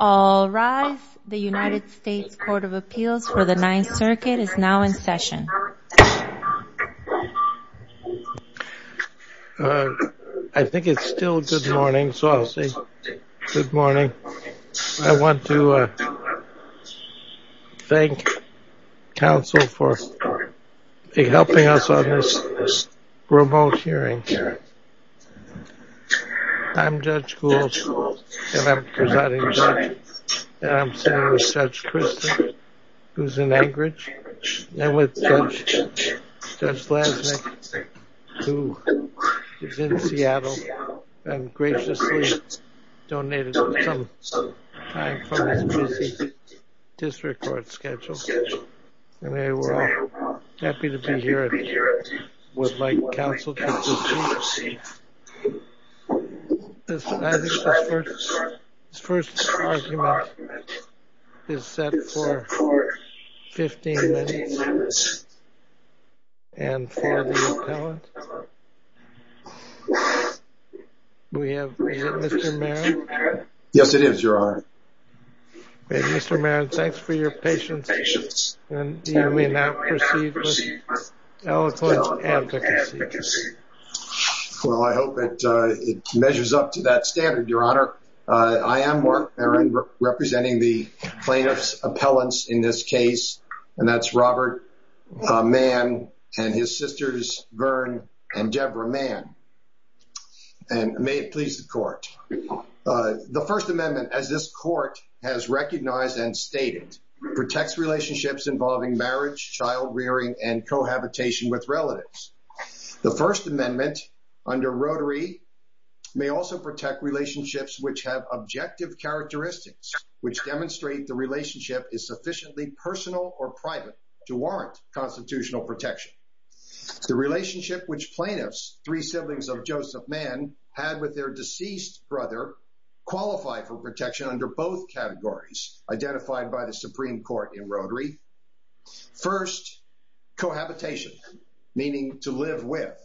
All rise. The United States Court of Appeals for the Ninth Circuit is now in session. I think it's still good morning, so I'll say good morning. I want to thank counsel for helping us on this remote hearing. I'm Judge Gould, and I'm presiding judge. I'm sitting with Judge Christin, who's in Anchorage, and with Judge Blaznik, who is in Seattle, and graciously donated some time from his busy district court schedule. And we're all happy to be here with my counsel, Judge Gould. I think this first argument is set for 15 minutes, and for the appellant. Is it Mr. Mann? Yes, it is. You're on. Mr. Mann, thanks for your patience, and we now proceed with the appellant's advocacy. Well, I hope it measures up to that standard, Your Honor. I am Mark Maron, representing the plaintiff's appellants in this case, and that's Robert Mann and his sisters Vern and Deborah Mann. And may it please the court. The First Amendment, as this court has recognized and stated, protects relationships involving marriage, child rearing, and cohabitation with relatives. The First Amendment under Rotary may also protect relationships which have objective characteristics, which demonstrate the relationship is sufficiently personal or private to warrant constitutional protection. The relationship which plaintiffs, three siblings of Joseph Mann, had with their deceased brother qualified for protection under both categories identified by the Supreme Court in Rotary. First, cohabitation, meaning to live with.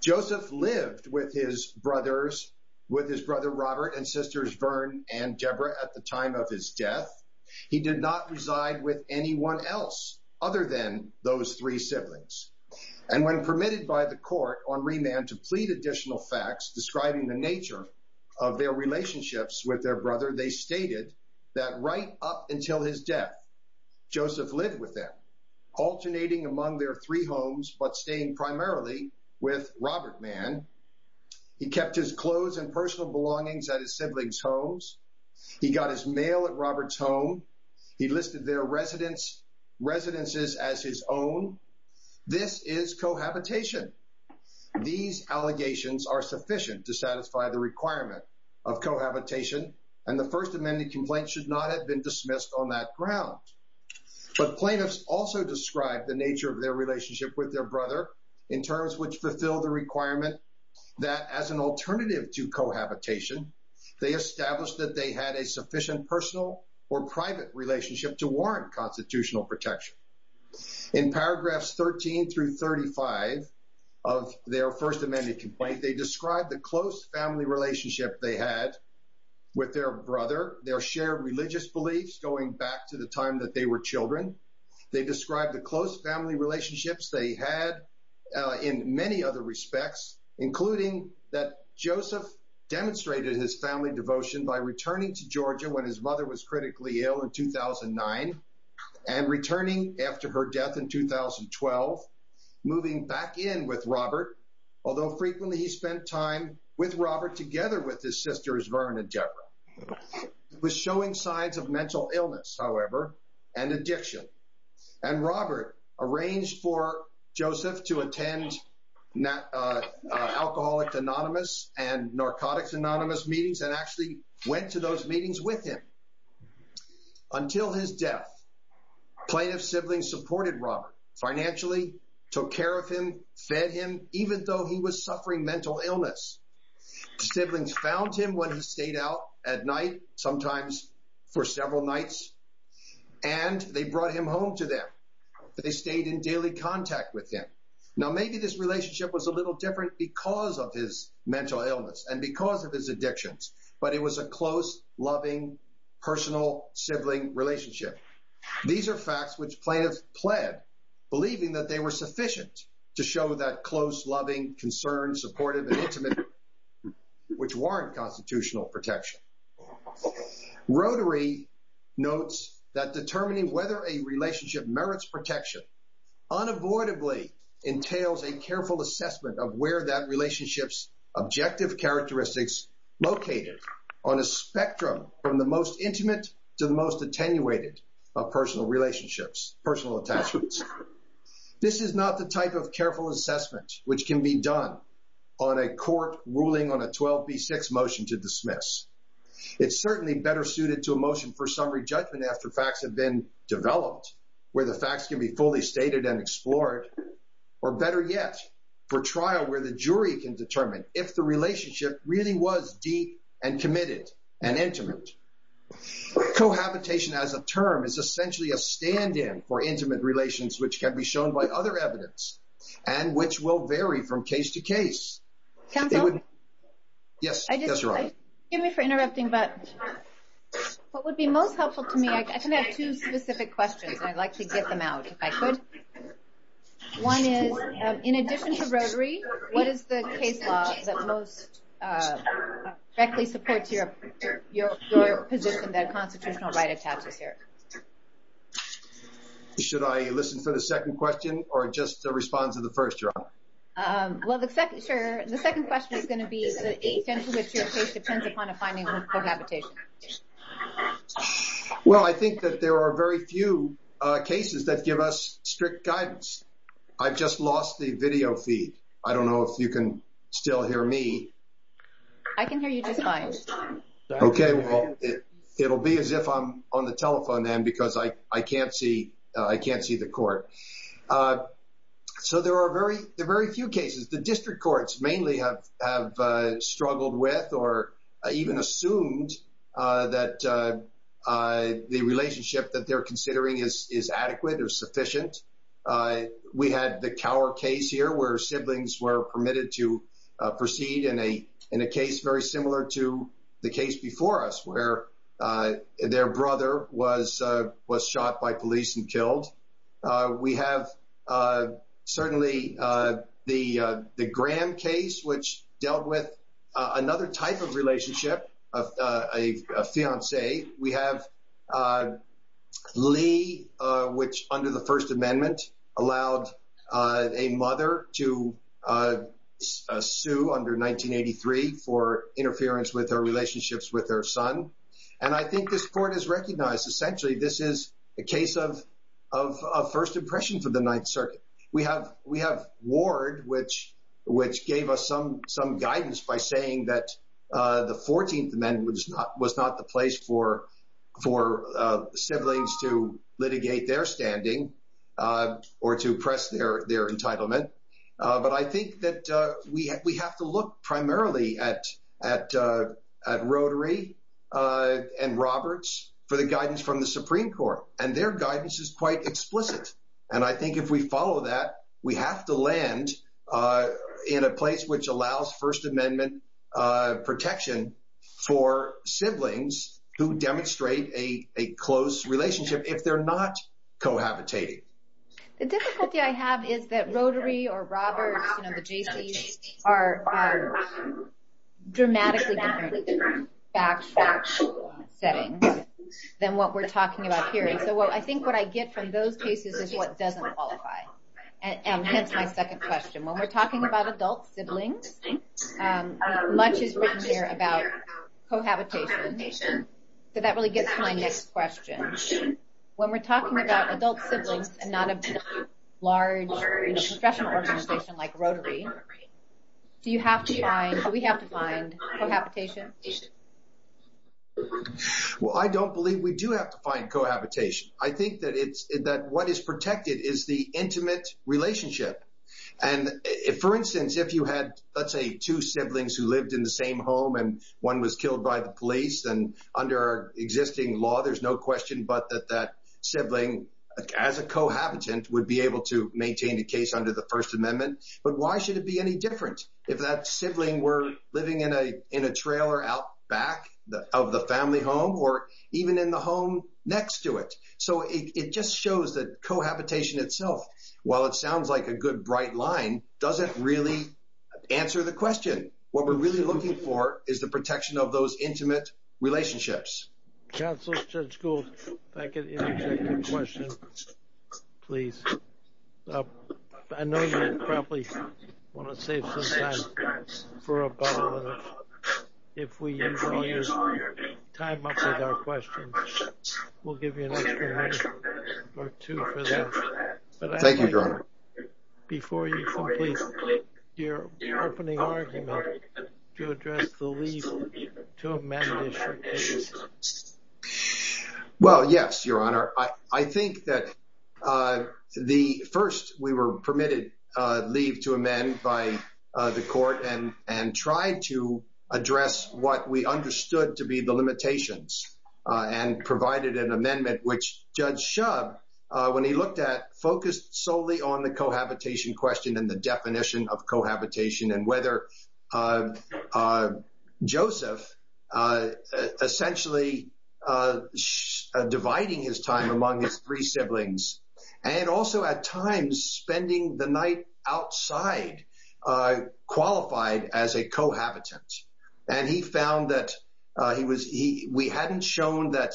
Joseph lived with his brothers, with his brother Robert and sisters Vern and Deborah at the time of his death. He did not reside with anyone else other than those three siblings. And when permitted by the court on remand to plead additional facts describing the nature of their relationships with their brother, they stated that right up until his death, Joseph lived with them, alternating among their three homes, but staying primarily with Robert Mann. He kept his clothes and personal belongings at his siblings' homes. He got his mail at Robert's home. He listed their residences as his own. This is cohabitation. These allegations are sufficient to satisfy the requirement of cohabitation, and the First Amendment complaint should not have been dismissed on that ground. But plaintiffs also described the nature of their relationship with their brother in terms which fulfill the requirement that as an alternative to cohabitation, they established that they had a sufficient personal or private relationship to warrant constitutional protection. In paragraphs 13 through 35 of their First Amendment complaint, they described the close family relationship they had with their brother, their shared religious beliefs going back to the time that they were children. They described the close family relationships they had in many other respects, including that Joseph demonstrated his family devotion by returning to Georgia when his mother was critically ill in 2009 and returning after her death in 2012, moving back in with Robert, although frequently he spent time with Robert together with his sisters Vern and Deborah. He was showing signs of mental illness, however, and addiction. And Robert arranged for Joseph to attend alcoholic anonymous and narcotics anonymous meetings and actually went to those meetings with him. Until his death, plaintiff siblings supported Robert financially, took care of him, fed him, even though he was suffering mental illness. Siblings found him when he stayed out at night, sometimes for several nights, and they brought him home to them. They stayed in daily contact with him. Now, maybe this relationship was a little different because of his mental illness and because of his addictions, but it was a close, loving, personal sibling relationship. These are facts which plaintiffs pled, believing that they were sufficient to show that close, loving, concerned, supportive and intimate, which warrant constitutional protection. Rotary notes that determining whether a relationship merits protection unavoidably entails a careful assessment of where that relationship's objective characteristics located on a spectrum from the most intimate to the most attenuated of personal relationships, personal attachments. This is not the type of careful assessment which can be done on a court ruling on a 12b6 motion to dismiss. It's certainly better suited to a motion for summary judgment after facts have been developed, where the facts can be fully stated and explored, or better yet, for trial where the jury can determine if the relationship really was deep and committed and intimate. Cohabitation as a term is essentially a stand-in for intimate relations, which can be shown by other evidence and which will vary from case to case. Counsel? Yes, Your Honor. Excuse me for interrupting, but what would be most helpful to me, I can have two specific questions, and I'd like to get them out if I could. One is, in addition to rotary, what is the case law that most directly supports your position that constitutional right attaches here? Should I listen for the second question or just respond to the first, Your Honor? Well, the second question is going to be the extent to which your case depends upon a finding of cohabitation. Well, I think that there are very few cases that give us strict guidance. I've just lost the video feed. I don't know if you can still hear me. I can hear you just fine. Okay, well, it'll be as if I'm on the telephone then because I can't see the court. So there are very few cases. The district courts mainly have struggled with or even assumed that the relationship that they're considering is adequate or sufficient. We had the Cower case here where siblings were permitted to proceed in a case very similar to the case before us where their brother was shot by police and killed. We have certainly the Graham case, which dealt with another type of relationship, a fiancé. We have Lee, which under the First Amendment allowed a mother to sue under 1983 for interference with her relationships with her son. And I think this court has recognized essentially this is a case of first impression for the Ninth Circuit. We have Ward, which gave us some guidance by saying that the 14th Amendment was not the place for siblings to litigate their standing or to press their entitlement. But I think that we have to look primarily at Rotary and Roberts for the guidance from the Supreme Court, and their guidance is quite explicit. And I think if we follow that, we have to land in a place which allows First Amendment protection for siblings who demonstrate a close relationship if they're not cohabitating. The difficulty I have is that Rotary or Roberts, you know, the Jaycees, are dramatically different factual settings than what we're talking about here. And so I think what I get from those cases is what doesn't qualify. And hence my second question. When we're talking about adult siblings, much is written there about cohabitation. So that really gets to my next question. When we're talking about adult siblings and not a large professional organization like Rotary, do we have to find cohabitation? Well, I don't believe we do have to find cohabitation. I think that what is protected is the intimate relationship. And for instance, if you had, let's say, two siblings who lived in the same home and one was killed by the police, then under our existing law, there's no question but that that sibling, as a cohabitant, would be able to maintain a case under the First Amendment. But why should it be any different if that sibling were living in a trailer out back of the family home or even in the home next to it? So it just shows that cohabitation itself, while it sounds like a good bright line, doesn't really answer the question. What we're really looking for is the protection of those intimate relationships. Counsel, Judge Gould, if I could interject a question, please. I know you probably want to save some time for a bottle and if we use all your time up with our questions, we'll give you an extra minute or two for that. Thank you, Jerome. Before you complete your opening argument, do you address the leave to amend the short case? Well, yes, Your Honor, I think that the first we were permitted leave to amend by the court and and tried to address what we understood to be the limitations and provided an amendment, which Judge Shubb, when he looked at focused solely on the cohabitation question and the definition of cohabitation and whether Joseph essentially dividing his time among his three siblings and also at times spending the night outside qualified as a cohabitant. And he found that he was he we hadn't shown that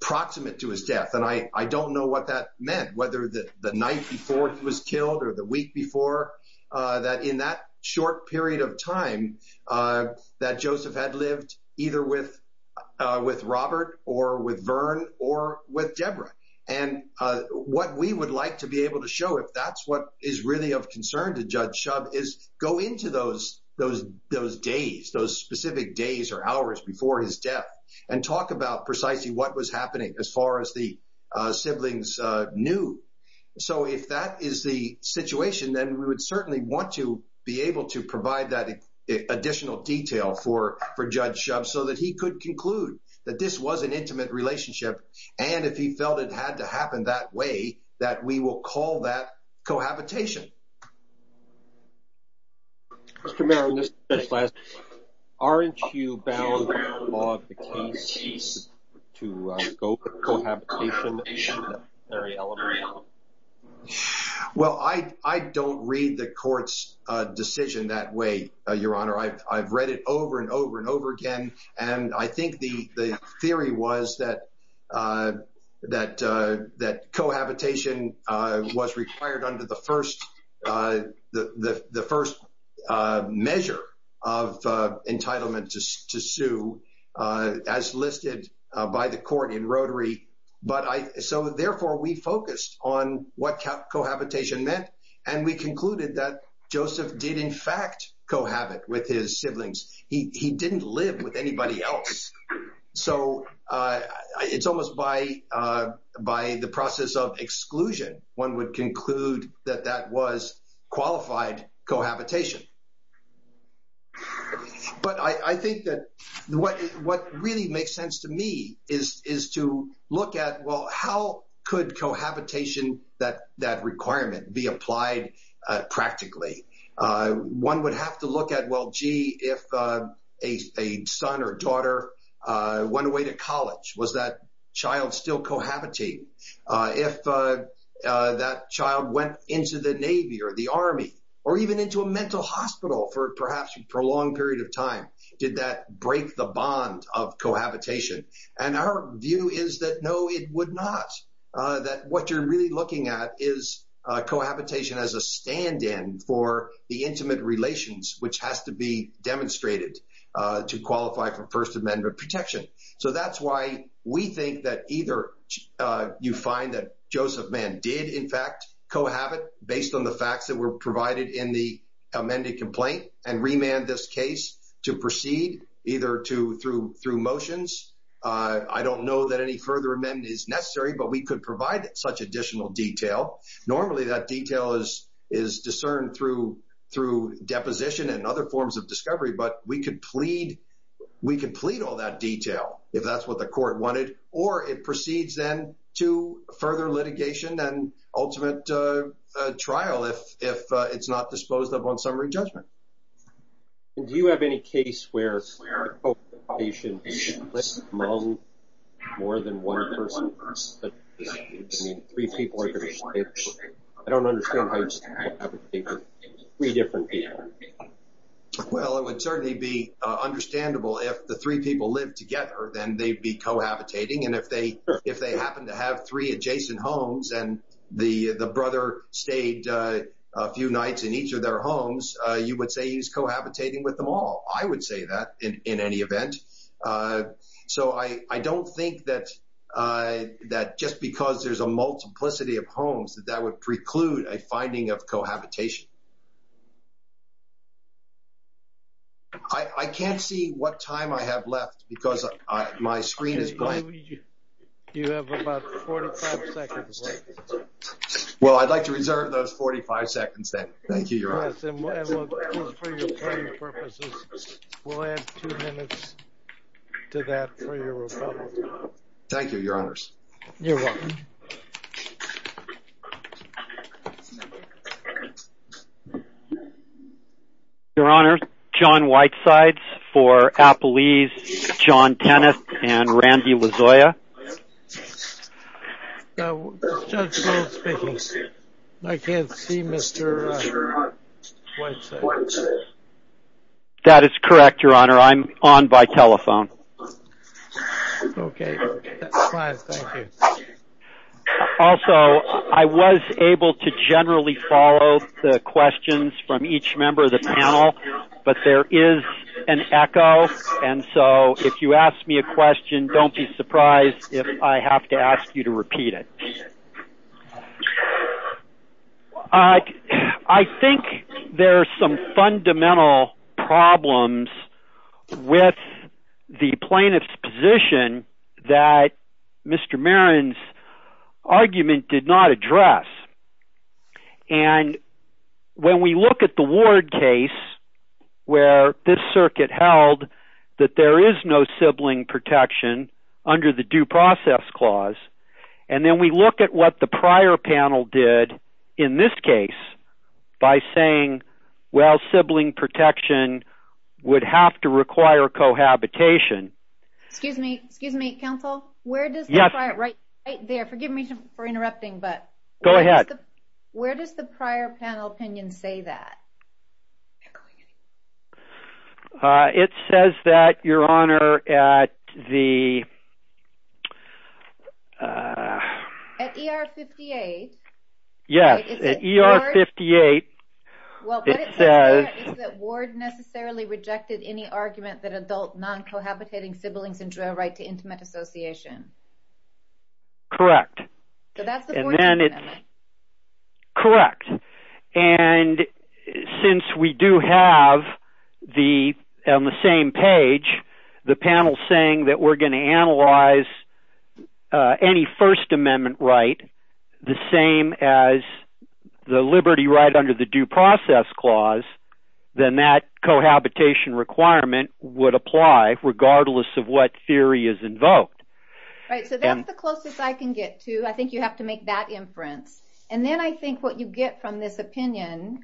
proximate to his death. And I don't know what that meant, whether the night before he was killed or the week before that in that short period of time that Joseph had lived either with with Robert or with Vern or with Deborah. And what we would like to be able to show if that's what is really of concern to Judge Shubb is go into those those those days, those specific days or hours before his death and talk about precisely what was happening as far as the siblings knew. So if that is the situation, then we would certainly want to be able to provide that additional detail for for Judge Shubb so that he could conclude that this was an intimate relationship. And if he felt it had to happen that way, that we will call that cohabitation. Mr. Merrill, aren't you bound by the law of the case to go for cohabitation? Well, I, I don't read the court's decision that way, Your Honor. I've read it over and over and over again. And I think the theory was that that that cohabitation was required under the first the first measure of entitlement to sue as listed by the court in Rotary. So therefore, we focused on what cohabitation meant. And we concluded that Joseph did, in fact, cohabit with his siblings. He didn't live with anybody else. So it's almost by by the process of exclusion, one would conclude that that was qualified cohabitation. But I think that what what really makes sense to me is is to look at, well, how could cohabitation that that requirement be applied practically? One would have to look at, well, gee, if a son or daughter went away to college, was that child still cohabiting? If that child went into the Navy or the Army or even into a mental hospital for perhaps a prolonged period of time, did that break the bond of cohabitation? And our view is that, no, it would not. That what you're really looking at is cohabitation as a stand in for the intimate relations, which has to be demonstrated to qualify for First Amendment protection. So that's why we think that either you find that Joseph Mann did, in fact, cohabit based on the facts that were provided in the amended complaint and remand this case to proceed either to through through motions. I don't know that any further amendment is necessary, but we could provide such additional detail. Normally that detail is is discerned through through deposition and other forms of discovery. But we could plead we could plead all that detail if that's what the court wanted or it proceeds then to further litigation and ultimate trial if if it's not disposed of on summary judgment. Do you have any case where you should listen to more than one person? I don't understand. Well, it would certainly be understandable if the three people live together, then they'd be cohabitating. And if they if they happen to have three adjacent homes and the the brother stayed a few nights in each of their homes, you would say he's cohabitating with them all. I would say that in any event. So I don't think that that just because there's a multiplicity of homes that that would preclude a finding of cohabitation. I can't see what time I have left because my screen is blank. You have about 45 seconds. Well, I'd like to reserve those 45 seconds. Thank you. Thank you, your honors. You're welcome. Your Honor. John Whitesides for Applebee's. John Tennis and Randy Lozoya. I can't see Mr. That is correct, your honor. I'm on by telephone. OK. Also, I was able to generally follow the questions from each member of the panel, but there is an echo. And so if you ask me a question, don't be surprised if I have to ask you to repeat it. I think there are some fundamental problems with the plaintiff's position that Mr. Marin's argument did not address. And when we look at the ward case where this circuit held that there is no sibling protection under the due process clause. And then we look at what the prior panel did in this case by saying, well, sibling protection would have to require cohabitation. Excuse me. Excuse me, counsel. Yes. Right there. Forgive me for interrupting. Go ahead. Where does the prior panel opinion say that? Echoing anything. It says that, your honor, at the. At ER 58. Yes. At ER 58. It says that ward necessarily rejected any argument that adult non-cohabitating siblings enjoy a right to intimate association. Correct. And then it's. Correct. And since we do have the on the same page, the panel saying that we're going to analyze any First Amendment right, the same as the liberty right under the due process clause, then that cohabitation requirement would apply regardless of what theory is invoked. Right. So that's the closest I can get to. I think you have to make that inference. And then I think what you get from this opinion,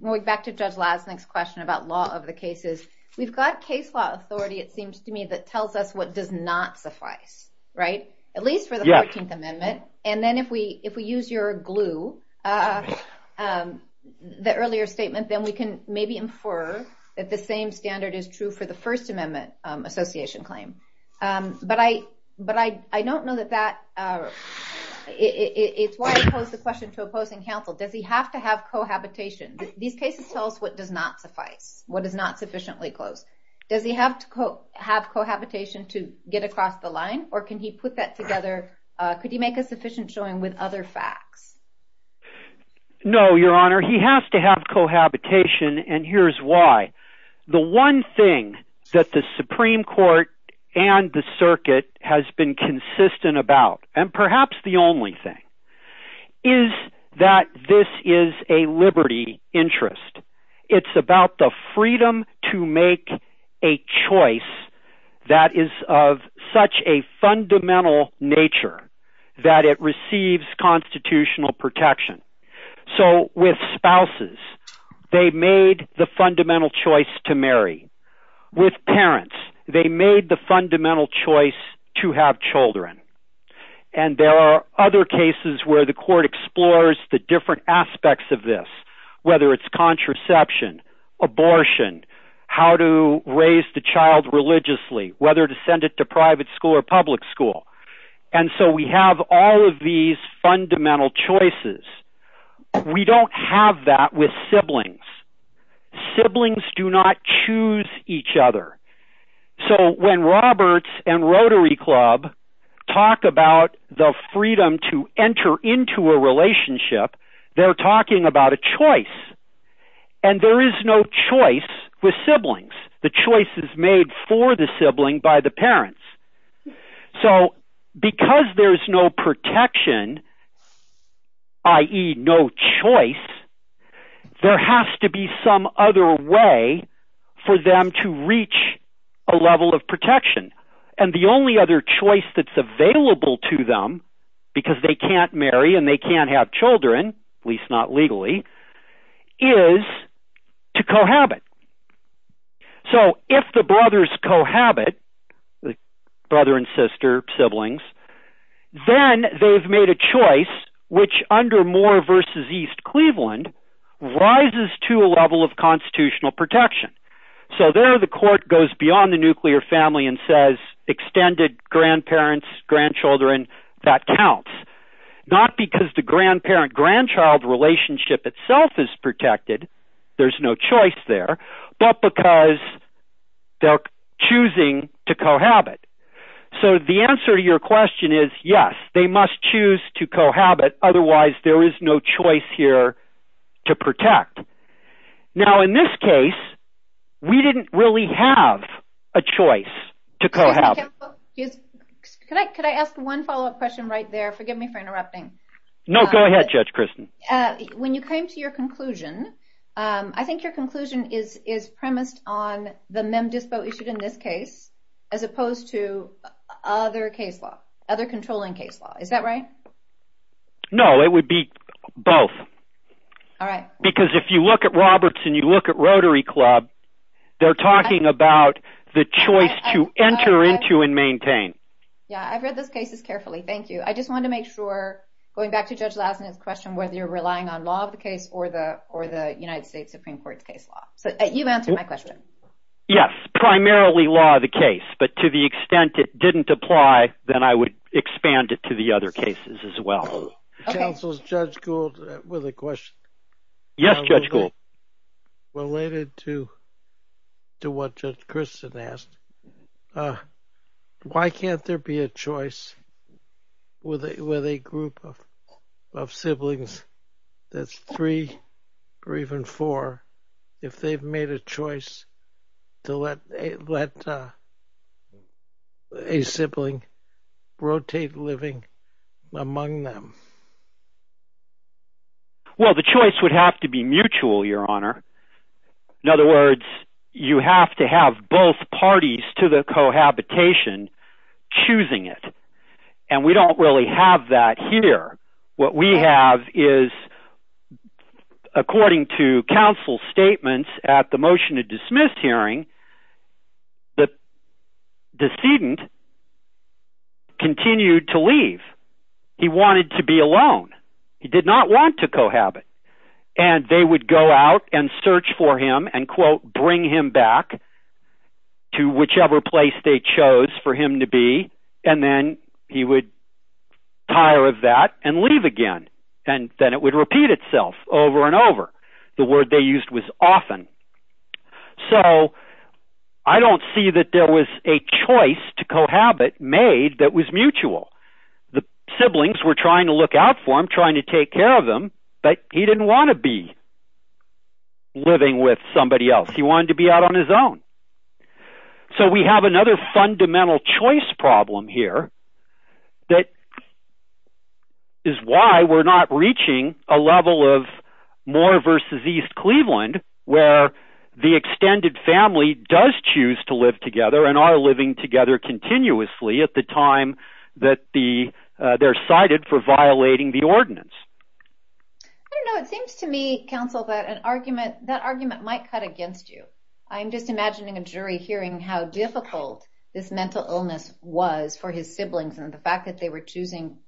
going back to Judge Lasnik's question about law of the cases, we've got case law authority, it seems to me, that tells us what does not suffice. Right. At least for the 14th Amendment. And then if we if we use your glue, the earlier statement, then we can maybe infer that the same standard is true for the First Amendment association claim. But I but I I don't know that that it's why I pose the question to opposing counsel. Does he have to have cohabitation? These cases tell us what does not suffice, what is not sufficiently close. Does he have to have cohabitation to get across the line or can he put that together? Could you make a sufficient showing with other facts? No, Your Honor. He has to have cohabitation. And here's why. The one thing that the Supreme Court and the circuit has been consistent about, and perhaps the only thing, is that this is a liberty interest. It's about the freedom to make a choice that is of such a fundamental nature that it receives constitutional protection. So with spouses, they made the fundamental choice to marry. With parents, they made the fundamental choice to have children. And there are other cases where the court explores the different aspects of this, whether it's contraception, abortion, how to raise the child religiously, whether to send it to private school or public school. And so we have all of these fundamental choices. We don't have that with siblings. Siblings do not choose each other. So when Roberts and Rotary Club talk about the freedom to enter into a relationship, they're talking about a choice. And there is no choice with siblings. The choice is made for the sibling by the parents. So because there's no protection, i.e. no choice, there has to be some other way for them to reach a level of protection. And the only other choice that's available to them, because they can't marry and they can't have children, at least not legally, is to cohabit. So if the brothers cohabit, brother and sister, siblings, then they've made a choice which, under Moore v. East Cleveland, rises to a level of constitutional protection. So there the court goes beyond the nuclear family and says extended grandparents, grandchildren, that counts. Not because the grandparent-grandchild relationship itself is protected, there's no choice there, but because they're choosing to cohabit. So the answer to your question is yes, they must choose to cohabit, otherwise there is no choice here to protect. Now in this case, we didn't really have a choice to cohabit. Judge McCampbell, could I ask one follow-up question right there? Forgive me for interrupting. No, go ahead, Judge Kristen. When you came to your conclusion, I think your conclusion is premised on the MEM-DISPO issued in this case, as opposed to other controlling case law. Is that right? No, it would be both. Because if you look at Roberts and you look at Rotary Club, they're talking about the choice to enter into and maintain. Yeah, I've read those cases carefully, thank you. I just wanted to make sure, going back to Judge Lassner's question, whether you're relying on law of the case or the United States Supreme Court's case law. You've answered my question. Yes, primarily law of the case, but to the extent it didn't apply, then I would expand it to the other cases as well. Counsel, Judge Gould with a question. Yes, Judge Gould. Related to what Judge Kristen asked, why can't there be a choice with a group of siblings that's three or even four, if they've made a choice to let a sibling rotate living among them? Well, the choice would have to be mutual, Your Honor. In other words, you have to have both parties to the cohabitation choosing it. And we don't really have that here. What we have is, according to counsel's statements at the motion to dismiss hearing, the decedent continued to leave. He wanted to be alone. He did not want to cohabit. And they would go out and search for him and, quote, bring him back to whichever place they chose for him to be, and then he would tire of that and leave again. And then it would repeat itself over and over. The word they used was often. So I don't see that there was a choice to cohabit made that was mutual. The siblings were trying to look out for him, trying to take care of him, but he didn't want to be living with somebody else. He wanted to be out on his own. So we have another fundamental choice problem here that is why we're not reaching a level of Moore versus East Cleveland, where the extended family does choose to live together and are living together continuously at the time that they're cited for violating the ordinance. I don't know. It seems to me, counsel, that that argument might cut against you. I'm just imagining a jury hearing how difficult this mental illness was for his siblings and the fact that they were choosing.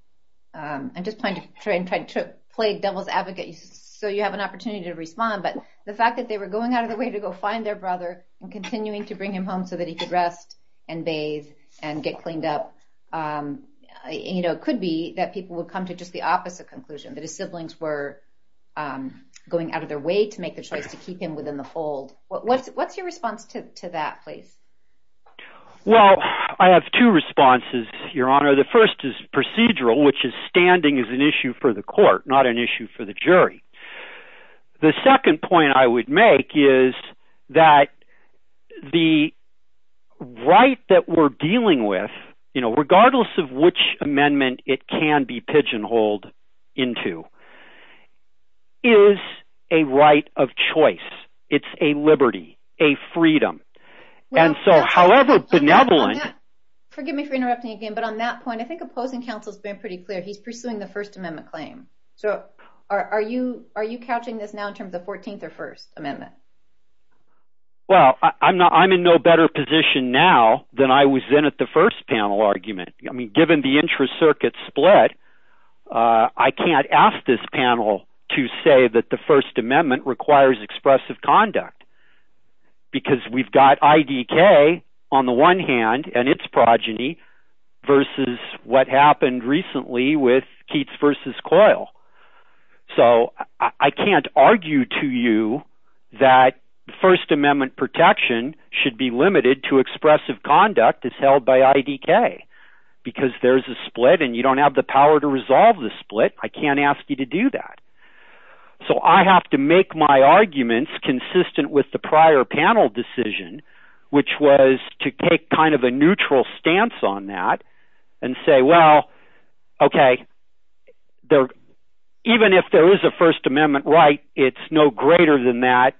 I'm just trying to play devil's advocate so you have an opportunity to respond. But the fact that they were going out of their way to go find their brother and continuing to bring him home so that he could rest and bathe and get cleaned up. You know, it could be that people would come to just the opposite conclusion, that his siblings were going out of their way to make the choice to keep him within the fold. What's your response to that, please? Well, I have two responses, Your Honor. The first is procedural, which is standing is an issue for the court, not an issue for the jury. The second point I would make is that the right that we're dealing with, you know, regardless of which amendment it can be pigeonholed into, is a right of choice. It's a liberty, a freedom. And so, however benevolent... Forgive me for interrupting again, but on that point, I think opposing counsel has been pretty clear. He's pursuing the First Amendment claim. So are you couching this now in terms of the 14th or First Amendment? Well, I'm in no better position now than I was then at the first panel argument. I mean, given the intra-circuit split, I can't ask this panel to say that the First Amendment requires expressive conduct. Because we've got IDK on the one hand and its progeny versus what happened recently with Keats v. Coyle. So I can't argue to you that First Amendment protection should be limited to expressive conduct as held by IDK. Because there's a split and you don't have the power to resolve the split. I can't ask you to do that. So I have to make my arguments consistent with the prior panel decision, which was to take kind of a neutral stance on that and say, well, okay, even if there is a First Amendment right, it's no greater than that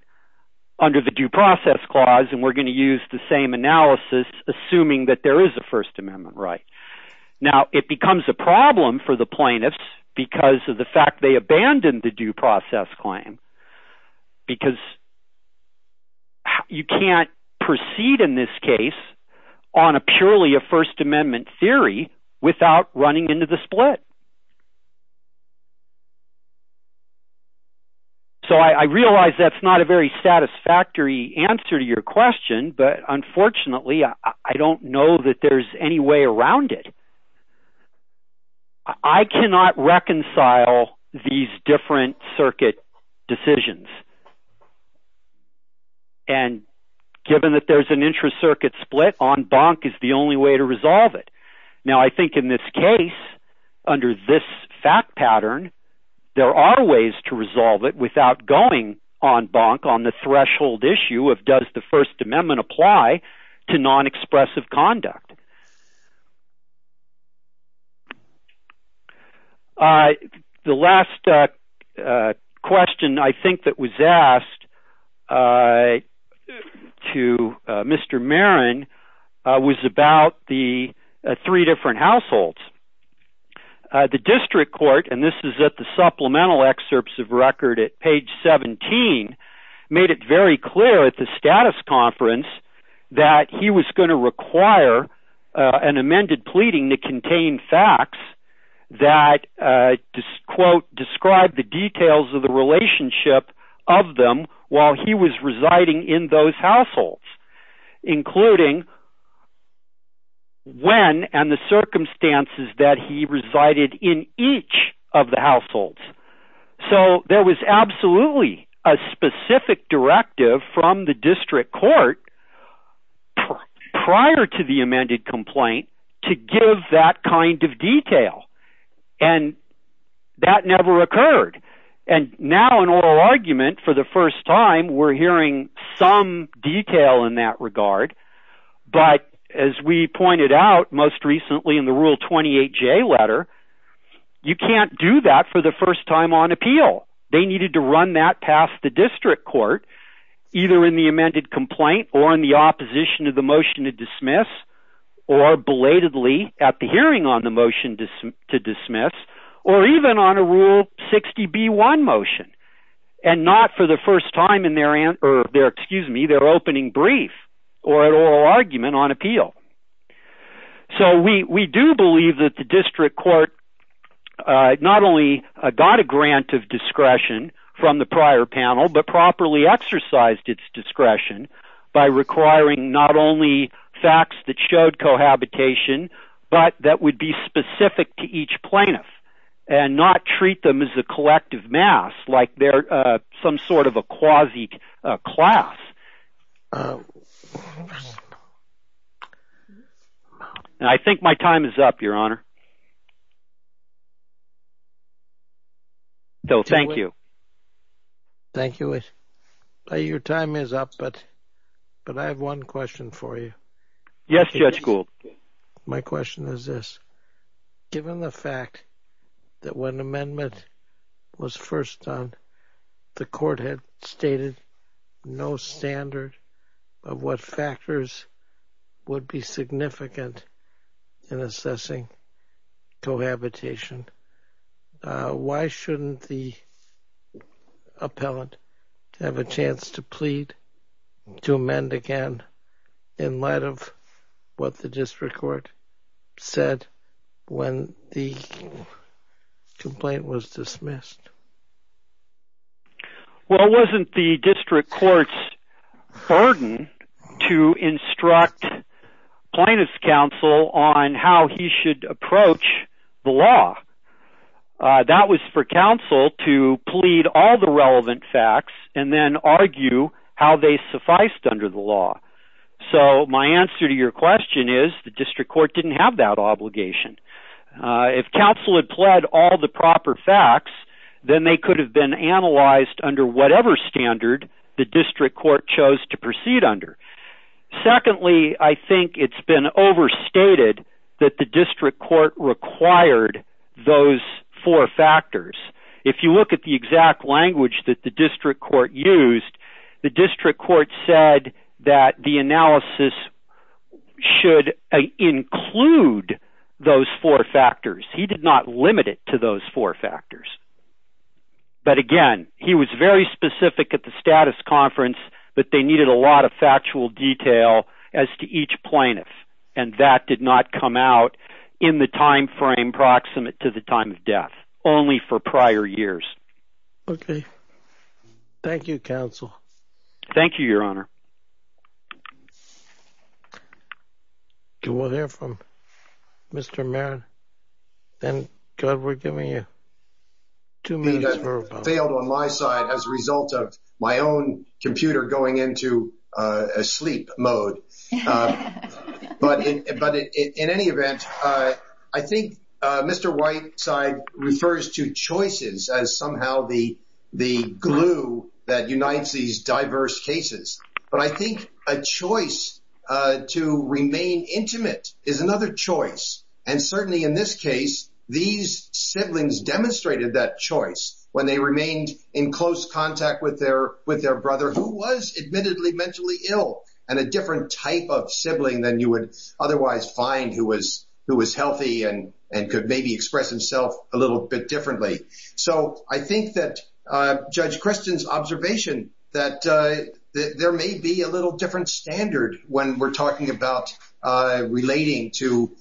under the Due Process Clause. And we're going to use the same analysis, assuming that there is a First Amendment right. Now, it becomes a problem for the plaintiffs because of the fact they abandoned the Due Process Claim. Because you can't proceed in this case on a purely a First Amendment theory without running into the split. So I realize that's not a very satisfactory answer to your question, but unfortunately, I don't know that there's any way around it. I cannot reconcile these different circuit decisions. And given that there's an intra-circuit split, en banc is the only way to resolve it. Now, I think in this case, under this fact pattern, there are ways to resolve it without going en banc on the threshold issue of does the First Amendment apply to non-expressive conduct. The last question I think that was asked to Mr. Marin was about the three different households. The district court, and this is at the supplemental excerpts of record at page 17, made it very clear at the status conference that he was going to require an amended pleading to contain facts that, quote, describe the details of the relationship of them while he was residing in those households, including when and the circumstances that he resided in each of the households. So there was absolutely a specific directive from the district court prior to the amended complaint to give that kind of detail. And that never occurred. And now in oral argument, for the first time, we're hearing some detail in that regard. But as we pointed out most recently in the Rule 28J letter, you can't do that for the first time on appeal. They needed to run that past the district court, either in the amended complaint or in the opposition to the motion to dismiss, or belatedly at the hearing on the motion to dismiss, or even on a Rule 60B1 motion, and not for the first time in their opening brief or at oral argument on appeal. So we do believe that the district court not only got a grant of discretion from the prior panel, but properly exercised its discretion by requiring not only facts that showed cohabitation, but that would be specific to each plaintiff, and not treat them as a collective mass, like they're some sort of a quasi-class. I think my time is up, Your Honor. So thank you. Thank you. Your time is up, but I have one question for you. Yes, Judge Gould. My question is this. Given the fact that when amendment was first done, the court had stated no standard of what factors would be significant in assessing cohabitation, why shouldn't the appellant have a chance to plead to amend again in light of what the district court said when the complaint was dismissed? Well, it wasn't the district court's burden to instruct plaintiff's counsel on how he should approach the law. That was for counsel to plead all the relevant facts and then argue how they sufficed under the law. So my answer to your question is the district court didn't have that obligation. If counsel had pled all the proper facts, then they could have been analyzed under whatever standard the district court chose to proceed under. Secondly, I think it's been overstated that the district court required those four factors. If you look at the exact language that the district court used, the district court said that the analysis should include those four factors. He did not limit it to those four factors. But again, he was very specific at the status conference that they needed a lot of factual detail as to each plaintiff. And that did not come out in the time frame proximate to the time of death. Only for prior years. Okay. Thank you, counsel. Thank you, your honor. Can we hear from Mr. Marin? Then, God, we're giving you two minutes. I failed on my side as a result of my own computer going into sleep mode. But in any event, I think Mr. Whiteside refers to choices as somehow the glue that unites these diverse cases. But I think a choice to remain intimate is another choice. And certainly in this case, these siblings demonstrated that choice when they remained in close contact with their brother who was admittedly mentally ill. And a different type of sibling than you would otherwise find who was healthy and could maybe express himself a little bit differently. So I think that Judge Christian's observation that there may be a little different standard when we're talking about relating to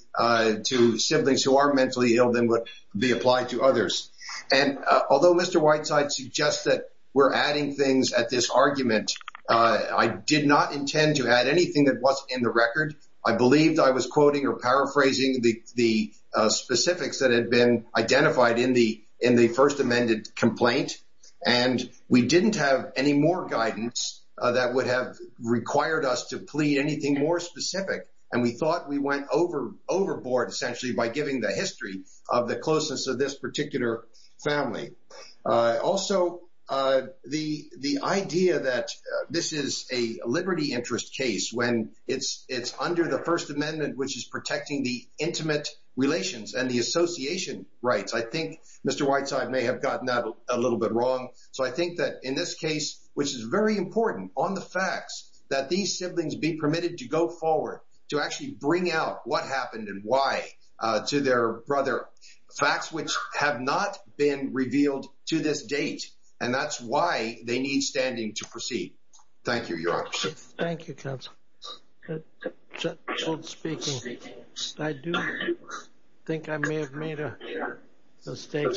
siblings who are mentally ill than would be applied to others. And although Mr. Whiteside suggests that we're adding things at this argument, I did not intend to add anything that wasn't in the record. I believed I was quoting or paraphrasing the specifics that had been identified in the first amended complaint. And we didn't have any more guidance that would have required us to plead anything more specific. And we thought we went overboard essentially by giving the history of the closeness of this particular family. Also, the idea that this is a liberty interest case when it's under the First Amendment, which is protecting the intimate relations and the association rights. I think Mr. Whiteside may have gotten that a little bit wrong. So I think that in this case, which is very important on the facts, that these siblings be permitted to go forward to actually bring out what happened and why to their brother. Facts which have not been revealed to this date. And that's why they need standing to proceed. Thank you, Your Honor. Thank you, counsel. Speaking, I do think I may have made a mistake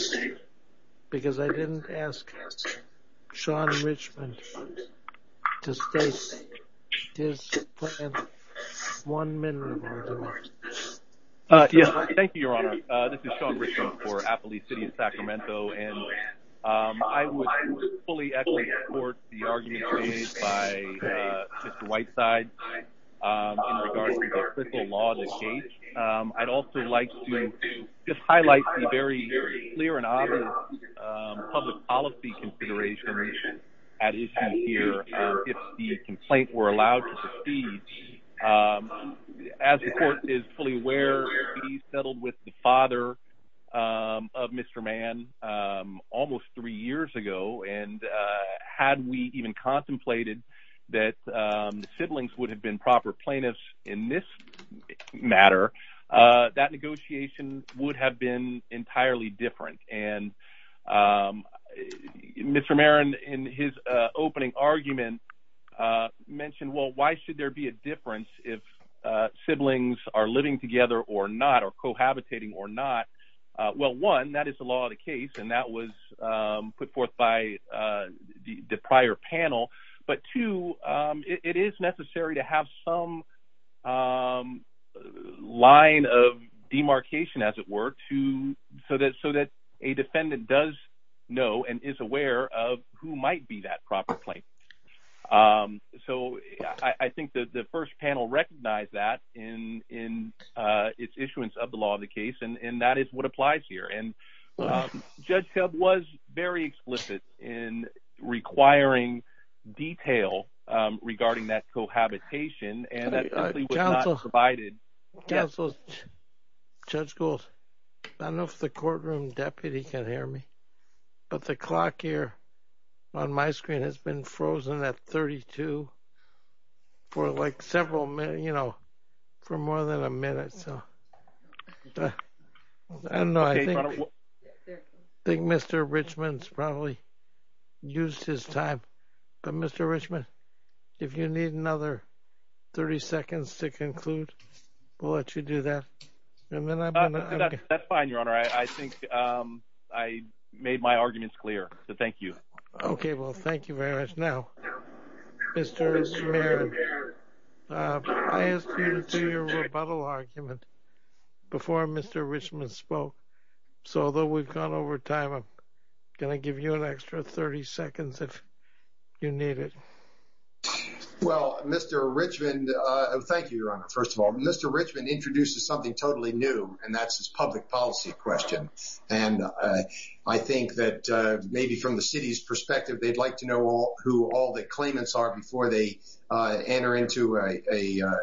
because I didn't ask Sean Richmond to state his plan. One minute. Thank you, Your Honor. This is Sean Richmond for Appley City, Sacramento. And I would fully support the argument made by Mr. Whiteside in regards to the official law of the gate. I'd also like to just highlight the very clear and obvious public policy considerations at issue here. If the complaint were allowed to proceed, as the court is fully aware, he settled with the father of Mr. Mann almost three years ago. And had we even contemplated that siblings would have been proper plaintiffs in this matter, that negotiation would have been entirely different. And Mr. Marron, in his opening argument, mentioned, well, why should there be a difference if siblings are living together or not or cohabitating or not? Well, one, that is the law of the case, and that was put forth by the prior panel. But two, it is necessary to have some line of demarcation, as it were, so that a defendant does know and is aware of who might be that proper plaintiff. So I think that the first panel recognized that in its issuance of the law of the case, and that is what applies here. And Judge Hub was very explicit in requiring detail regarding that cohabitation, and that simply was not provided. Counsel, Judge Gould, I don't know if the courtroom deputy can hear me, but the clock here on my screen has been frozen at 32 for like several minutes, you know, for more than a minute. I think Mr. Richman's probably used his time, but Mr. Richman, if you need another 30 seconds to conclude, we'll let you do that. That's fine, Your Honor. I think I made my arguments clear, so thank you. Okay, well, thank you very much. Now, Mr. Merritt, I asked you to do your rebuttal argument before Mr. Richman spoke, so although we've gone over time, I'm going to give you an extra 30 seconds if you need it. Well, Mr. Richman, thank you, Your Honor. First of all, Mr. Richman introduces something totally new, and that's his public policy question. And I think that maybe from the city's perspective, they'd like to know who all the claimants are before they enter into a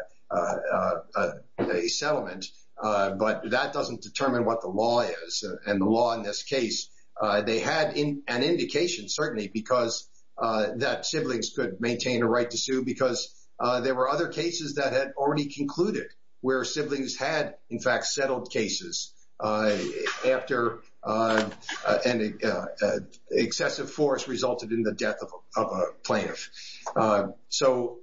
settlement, but that doesn't determine what the law is. And the law in this case, they had an indication, certainly, that siblings could maintain a right to sue because there were other cases that had already concluded where siblings had, in fact, settled cases after an excessive force resulted in the death of a plaintiff. So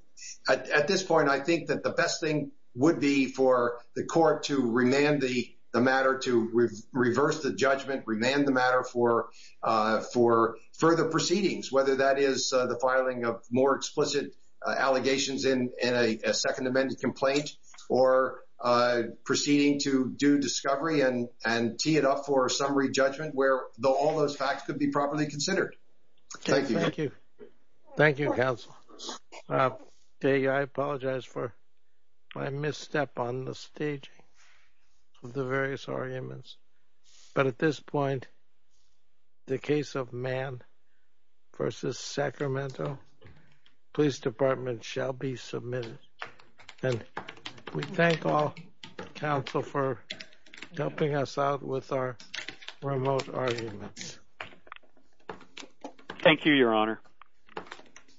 at this point, I think that the best thing would be for the court to remand the matter, to reverse the judgment, remand the matter for further proceedings, whether that is the filing of more explicit allegations in a Second Amendment complaint or proceeding to due discovery and tee it up for a summary judgment where all those facts could be properly considered. Thank you. Thank you. Thank you, counsel. I apologize for my misstep on the stage of the various arguments. But at this point, the case of Mann versus Sacramento Police Department shall be submitted. And we thank all counsel for helping us out with our remote arguments. Thank you, Your Honor.